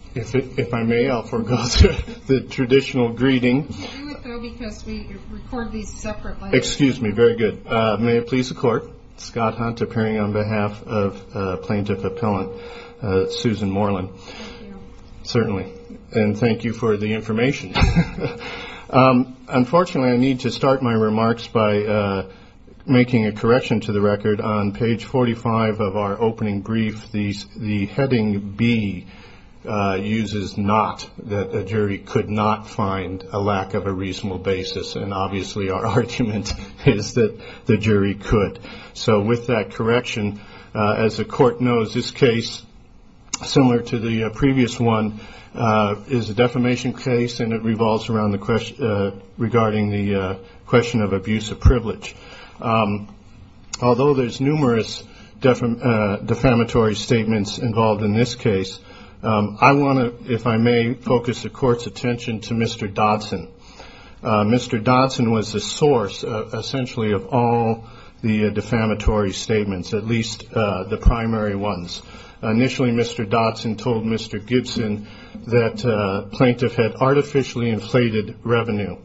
I need to start my remarks by making a correction to the record. On page 45 of our opening brief, the heading B uses not, that a jury could not find a lack of a reasonable basis, and obviously our argument is that the jury could. So with that correction, as the court knows, this case, similar to the previous one, is a defamation case, and it revolves around the question of abuse of privilege. Although there's numerous defamatory statements involved in this case, I want to, if I may, focus the court's attention to Mr. Dodson. Mr. Dodson was the source, essentially, of all the defamatory statements, at least the primary ones. Initially, Mr. Dodson told Mr. Gibson that plaintiff had artificially inflated revenue,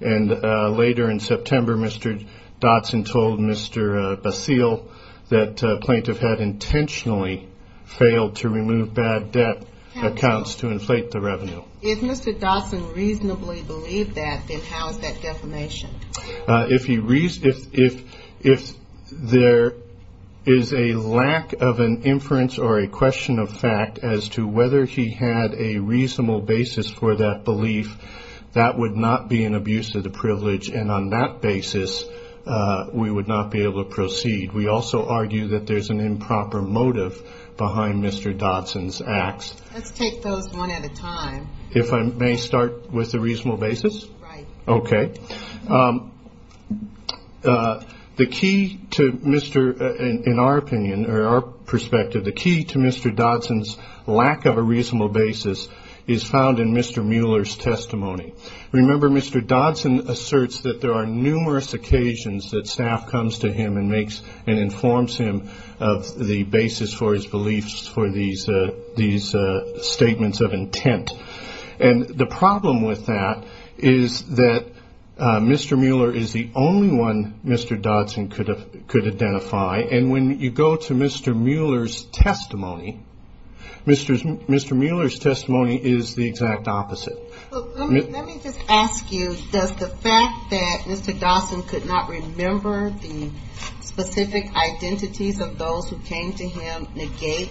and later in September, Mr. Dodson told Mr. Basile that plaintiff had intentionally failed to remove bad debt accounts to inflate the revenue. If Mr. Dodson reasonably believed that, then how is that defamation? If there is a lack of an inference or a question of fact as to whether he had a reasonable basis for that belief, that would not be an abuse of the privilege, and on that basis, we would not be able to proceed. We also argue that there's an improper motive behind Mr. Dodson's acts. Let's take those one at a time. If I may start with a reasonable basis? Right. Okay. The key to Mr., in our opinion, or our perspective, the key to Mr. Dodson's lack of a reasonable basis is found in Mr. Mueller's testimony. Remember, Mr. Dodson asserts that there are numerous occasions that staff comes to him and makes and informs him of the basis for his beliefs for these statements of intent. And the problem with that is that Mr. Mueller is the only one Mr. Dodson could identify, and when you go to Mr. Mueller's testimony, Mr. Mueller's testimony is the exact opposite. Let me just ask you, does the fact that Mr. Dodson could not remember the specific identities of those who came to him negate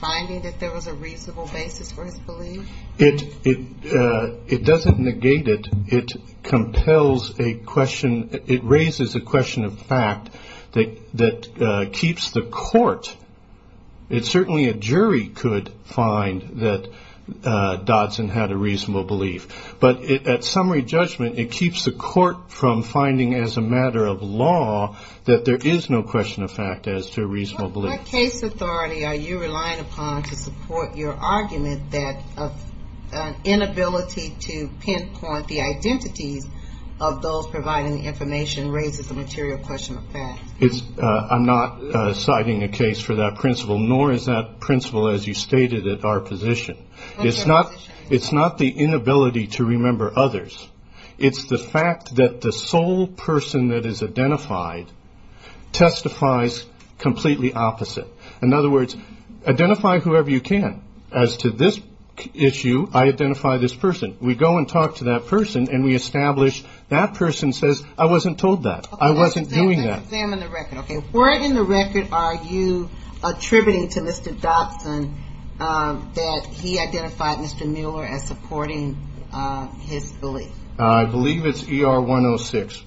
finding that there was a reasonable basis for his belief? It doesn't negate it. It compels a question. It raises a question of fact that keeps the court. It's certainly a jury could find that Dodson had a reasonable belief, but at summary judgment, it keeps the court from finding as a matter of law that there is no question of fact as to a reasonable belief. What case authority are you relying upon to support your argument that an inability to pinpoint the identities of those providing the information raises a material question of fact? I'm not citing a case for that principle, nor is that principle as you stated at our position. It's not the inability to remember others. It's the fact that the sole person that is identified testifies completely opposite. In other words, identify whoever you can. As to this issue, I identify this person. We go and talk to that person, and we establish that person says, I wasn't told that. I wasn't doing that. Let's examine the record. Where in the record are you attributing to Mr. Dodson that he identified Mr. Mueller as supporting his belief? I believe it's ER 106.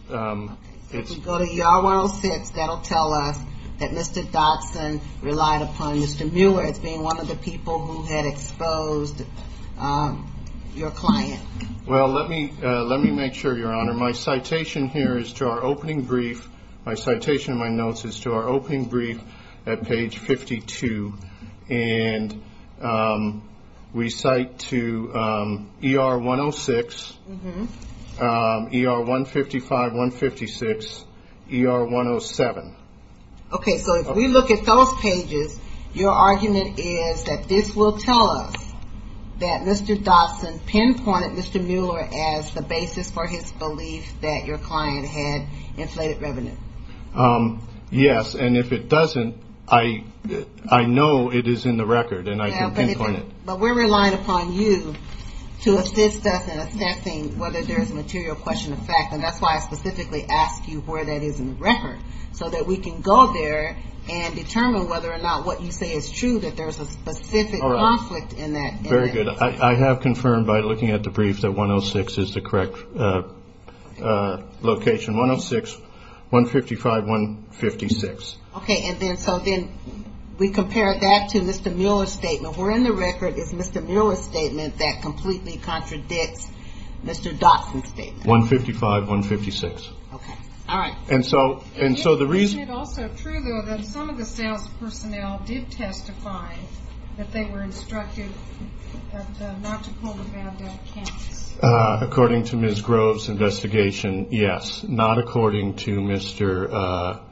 If we go to ER 106, that'll tell us that Mr. Dodson relied upon Mr. Mueller as being one of the people who had exposed your client. My citation here is to our opening brief. My citation in my notes is to our opening brief at page 52. And we cite to ER 106, ER 155, 156, ER 107. Okay, so if we look at those pages, your argument is that this will tell us that Mr. Dodson pinpointed Mr. Mueller as the basis for his belief that your client had inflated revenue. Yes, and if it doesn't, I know it is in the record, and I can pinpoint it. But we're relying upon you to assist us in assessing whether there's a material question of fact, and that's why I specifically ask you where that is in the record, so that we can go there and determine whether or not what you say is true, that there's a specific conflict in that. Very good. I have confirmed by looking at the brief that 106 is the correct location. 106, 155, 156. Okay, and then so then we compare that to Mr. Mueller's statement. If we're in the record, it's Mr. Mueller's statement that completely contradicts Mr. Dodson's statement. 155, 156. Okay, all right. And so the reason... Isn't it also true, though, that some of the sales personnel did testify that they were instructed not to pull the van down campus? According to Ms. Grove's investigation, yes, not according to Mr.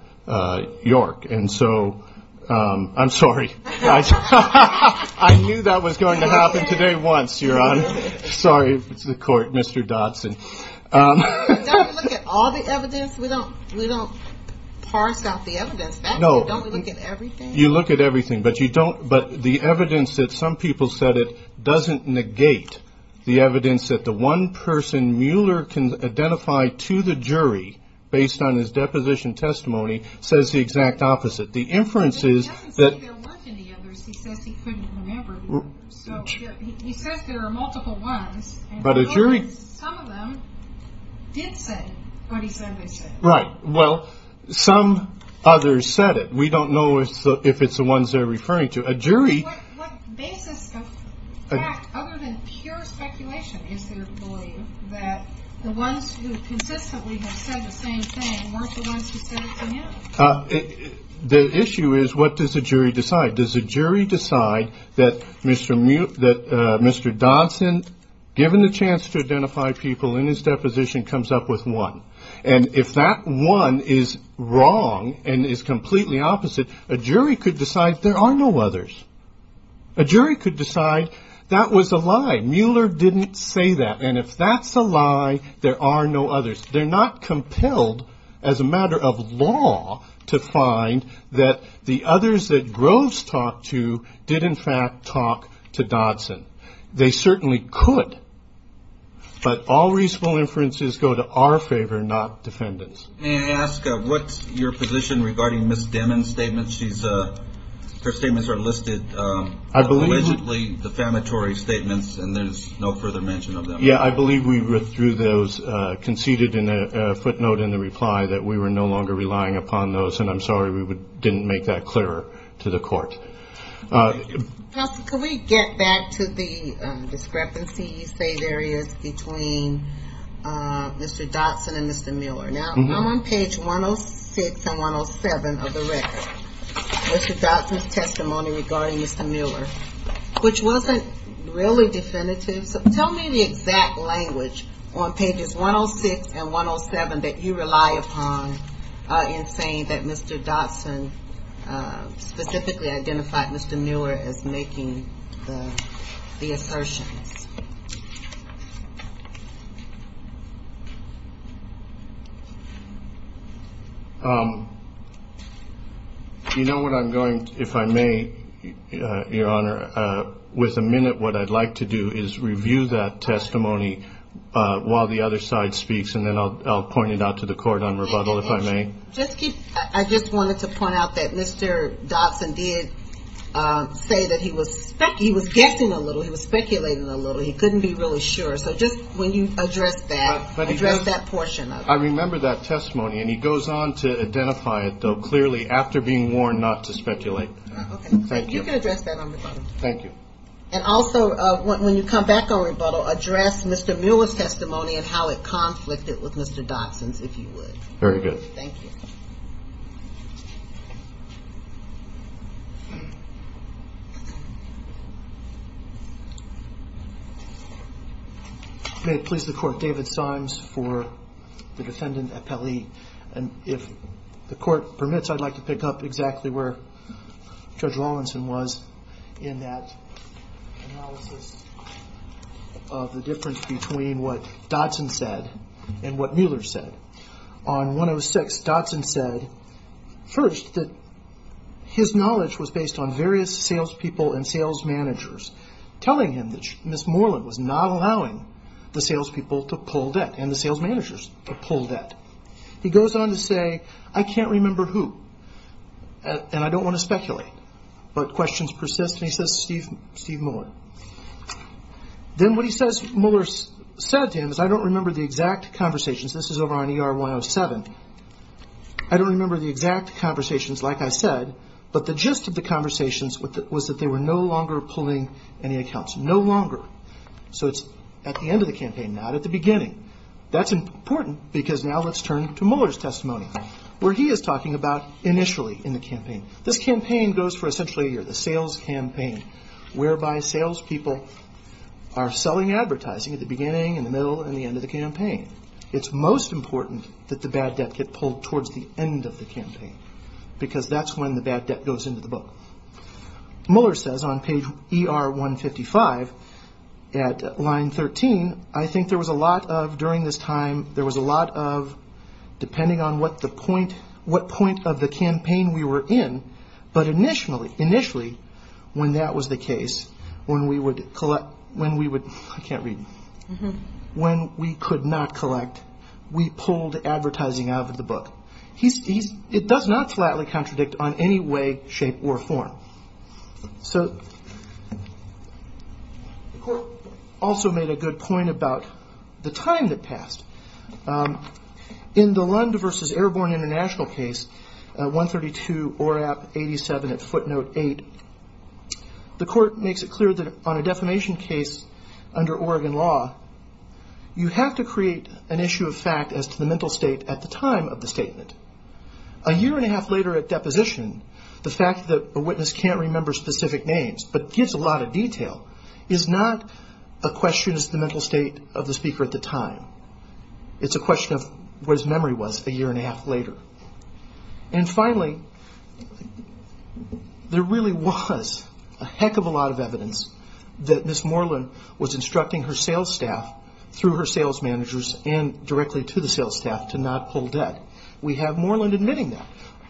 York. And so I'm sorry. I knew that was going to happen today once, Your Honor. Sorry to the court, Mr. Dodson. Don't we look at all the evidence? We don't parse out the evidence, don't we look at everything? No, you look at everything, but you don't... But the evidence that some people said it doesn't negate the evidence that the one person Mueller can identify to the jury, based on his deposition testimony, says the exact opposite. The inference is that... He doesn't say there weren't any others. He says he couldn't remember. So he says there are multiple ones. But a jury... Some of them did say what he said they said. Right. Well, some others said it. We don't know if it's the ones they're referring to. A jury... What basis of fact, other than pure speculation, is there to believe that the ones who consistently have said the same thing weren't the ones who said it to him? The issue is, what does the jury decide? Does the jury decide that Mr. Dodson, given the chance to identify people in his deposition, comes up with one? And if that one is wrong and is completely opposite, a jury could decide there are no others. A jury could decide that was a lie. Mueller didn't say that. And if that's a lie, there are no others. They're not compelled, as a matter of law, to find that the others that Groves talked to did, in fact, talk to Dodson. They certainly could. But all reasonable inferences go to our favor, not defendants. May I ask, what's your position regarding Ms. Demin's statements? Her statements are listed as allegedly defamatory statements, and there's no further mention of them. Yeah, I believe we withdrew those, conceded in a footnote in the reply that we were no longer relying upon those. And I'm sorry we didn't make that clearer to the court. Counsel, could we get back to the discrepancy you say there is between Mr. Dodson and Mr. Mueller? Now, I'm on page 106 and 107 of the record, Mr. Dodson's testimony regarding Mr. Mueller, which wasn't really definitive. So tell me the exact language on pages 106 and 107 that you rely upon in saying that Mr. Dodson specifically identified Mr. Mueller as making the assertions. You know what I'm going to, if I may, Your Honor, with a minute, what I'd like to do is review that testimony while the other side speaks, and then I'll point it out to the court on rebuttal, if I may. I just wanted to point out that Mr. Dodson did say that he was guessing a little, he was speculating a little, he couldn't be really sure. So just when you address that, address that portion of it. I remember that testimony, and he goes on to identify it though, clearly, after being warned not to speculate. Okay, you can address that on rebuttal. Thank you. And also, when you come back on rebuttal, address Mr. Mueller's testimony and how it conflicted with Mr. Dodson's, if you would. Very good. Thank you. May it please the Court, David Symes for the Defendant Appellee. And if the Court permits, I'd like to pick up exactly where Judge Rawlinson was in that analysis of the difference between what Dodson said and what Mueller said. On 106, Dodson said, first, that his knowledge was based on various salespeople and sales managers telling him that Ms. Moreland was not allowing the salespeople to pull debt and the sales managers to pull debt. He goes on to say, I can't remember who, and I don't want to speculate, but questions persist, and he says Steve Mueller. Then what he says Mueller said to him is, I don't remember the exact conversations. This is over on ER 107. I don't remember the exact conversations, like I said, but the gist of the conversations was that they were no longer pulling any accounts, no longer. So it's at the end of the campaign, not at the beginning. That's important because now let's turn to Mueller's testimony, where he is talking about initially in the campaign. This campaign goes for essentially a year, the sales campaign, whereby salespeople are selling advertising at the beginning, in the middle, and the end of the campaign. It's most important that the bad debt get pulled towards the end of the campaign because that's when the bad debt goes into the book. Mueller says on page ER 155 at line 13, I think there was a lot of, during this time, there was a lot of, depending on what point of the campaign we were in, but initially, when that was the case, when we would collect, when we would, I can't read. When we could not collect, we pulled advertising out of the book. It does not flatly contradict on any way, shape, or form. So the court also made a good point about the time that passed. In the Lund versus Airborne International case, 132 ORAP 87 at footnote 8, the court makes it clear that on a defamation case under Oregon law, you have to create an issue of fact as to the mental state at the time of the statement. A year and a half later at deposition, the fact that a witness can't remember specific names, but gives a lot of detail, is not a question as to the mental state of the speaker at the time. It's a question of what his memory was a year and a half later. And finally, there really was a heck of a lot of evidence that Ms. Moreland was instructing her sales staff, through her sales managers and directly to the sales staff, to not pull debt. We have Moreland admitting that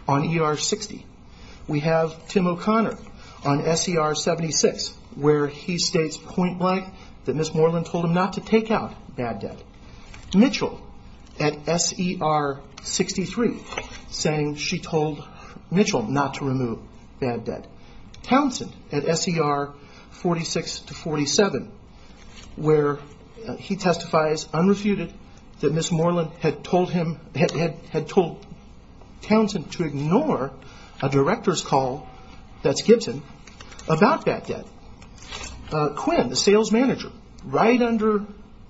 on ER 60. We have Tim O'Connor on SER 76, where he states point blank that Ms. Moreland told him not to take out bad debt. Mitchell at SER 63, saying she told Mitchell not to remove bad debt. Townsend at SER 46 to 47, where he testifies unrefuted that Ms. Moreland had told Townsend to ignore a director's call, that's Gibson, about bad debt. Quinn, the sales manager, right under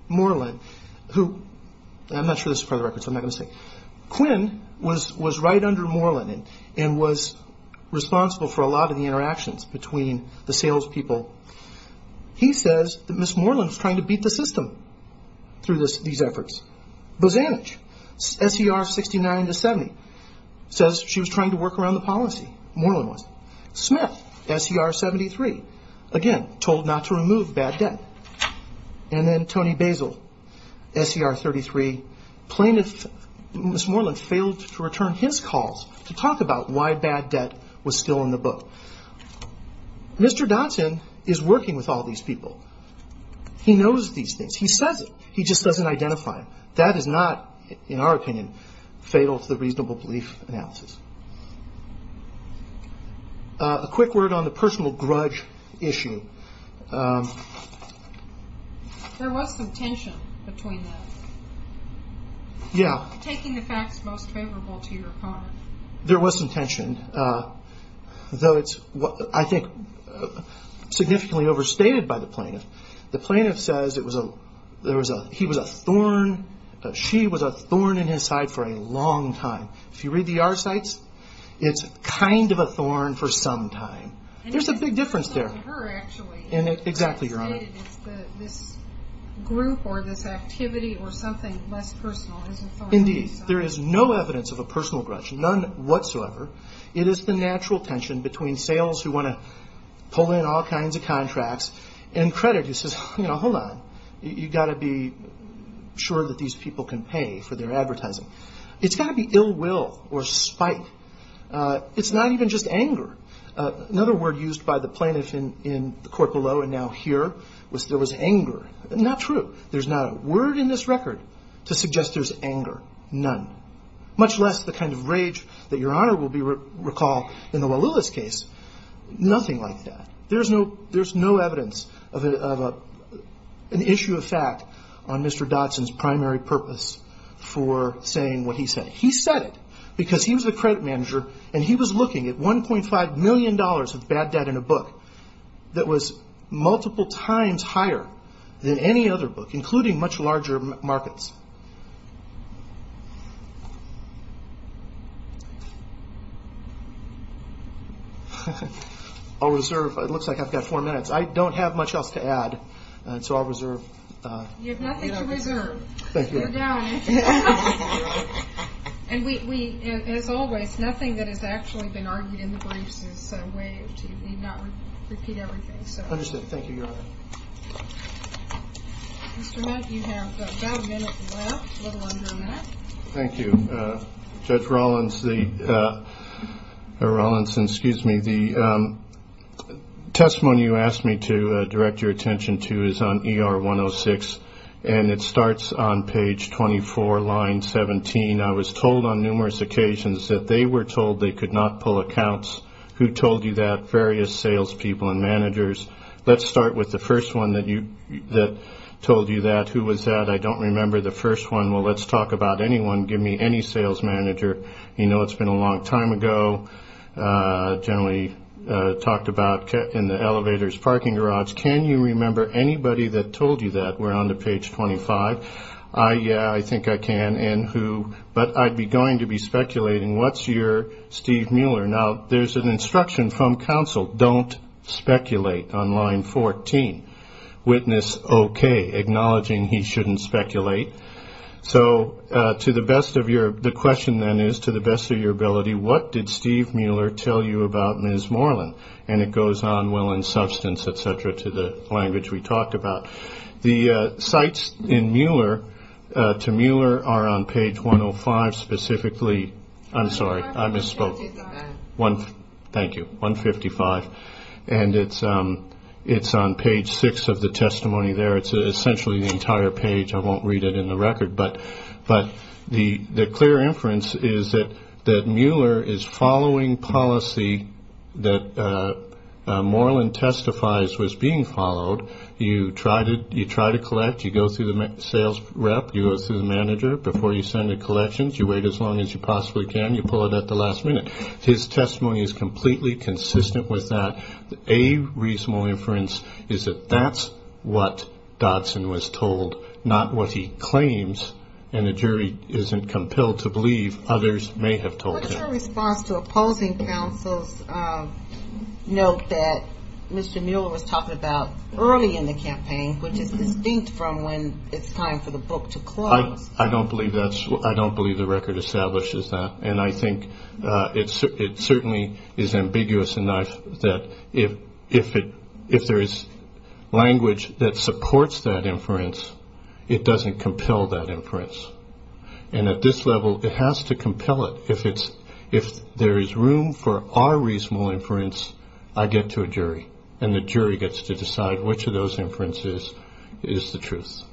Moreland, who I'm not sure this is part of the records, I'm not going to say. Quinn was right under Moreland and was responsible for a lot of the interactions between the sales people. He says that Ms. Moreland was trying to beat the system through these efforts. Bozanich, SER 69 to 70, says she was trying to work around the policy, Moreland was. Smith, SER 73, again, told not to remove bad debt. And then Tony Basil, SER 33, plaintiff, Ms. Moreland failed to return his calls to talk about why bad debt was still in the book. Mr. Townsend is working with all these people. He knows these things. He says it. He just doesn't identify it. That is not, in our opinion, fatal to the reasonable belief analysis. A quick word on the personal grudge issue. There was some tension between that. Yeah. Taking the facts most favorable to your part. There was some tension. Though it's, I think, significantly overstated by the plaintiff. The plaintiff says he was a thorn, she was a thorn in his side for a long time. If you read the R-cites, it's kind of a thorn for some time. There's a big difference there. Exactly, Your Honor. There is no evidence of a personal grudge. None whatsoever. It is the natural tension between sales who want to pull in all kinds of contracts and credit who says, you know, hold on. You've got to be sure that these people can pay for their advertising. It's got to be ill will or spite. It's not even just anger. Another word used by the plaintiff in the court below and now here was there was anger. Not true. There's not a word in this record to suggest there's anger. None. Much less the kind of rage that Your Honor will recall in the Walulis case. Nothing like that. There's no evidence of an issue of fact on Mr. Dotson's primary purpose for saying what he said. He said it because he was the credit manager and he was looking at $1.5 million of bad debt in a book that was multiple times higher than any other book, including much larger markets. I'll reserve. It looks like I've got four minutes. I don't have much else to add. And so I'll reserve. You have nothing to reserve. And we as always, nothing that has actually been argued in the briefs is a way to not repeat everything. So understood. Thank you, Your Honor. Mr. Met, you have about a minute left, a little under a minute. Thank you. Judge Rawlinson, excuse me. The testimony you asked me to direct your attention to is on ER 106 and it starts on page 24, line 17. I was told on numerous occasions that they were told they could not pull accounts. Who told you that? Various salespeople and managers. Let's start with the first one that told you that. Who was that? I don't remember the first one. Well, let's talk about anyone. Give me any sales manager. You know, it's been a long time ago, generally talked about in the elevator's parking garage. Can you remember anybody that told you that? We're on to page 25. Yeah, I think I can. But I'd be going to be speculating. What's your Steve Mueller? Now, there's an instruction from counsel. Don't speculate on line 14. Witness okay, acknowledging he shouldn't speculate. So to the best of your, the question then is to the best of your ability, what did Steve Mueller tell you about Ms. Moreland? And it goes on well in substance, et cetera, to the language we talked about. The sites in Mueller, to Mueller are on page 105 specifically. I'm sorry. I misspoke. Thank you. 155. And it's on page six of the testimony there. It's essentially the entire page. I won't read it in the record, but the clear inference is that Mueller is following policy that Moreland testifies was being followed. You try to collect. You go through the sales rep. You go through the manager before you send the collections. You wait as long as you possibly can. You pull it at the last minute. His testimony is completely consistent with that. A reasonable inference is that that's what Dodson was told, not what he claims. And the jury isn't compelled to believe others may have told her response to opposing councils. Note that Mr. Mueller was talking about early in the campaign, which is distinct from when it's time for the book to close. I don't believe that's I don't believe the record establishes that. I think it certainly is ambiguous enough that if it if there is language that supports that inference, it doesn't compel that inference. And at this level, it has to compel it. If it's if there is room for our reasonable inference, I get to a jury and the jury gets to decide which of those inferences is the truth.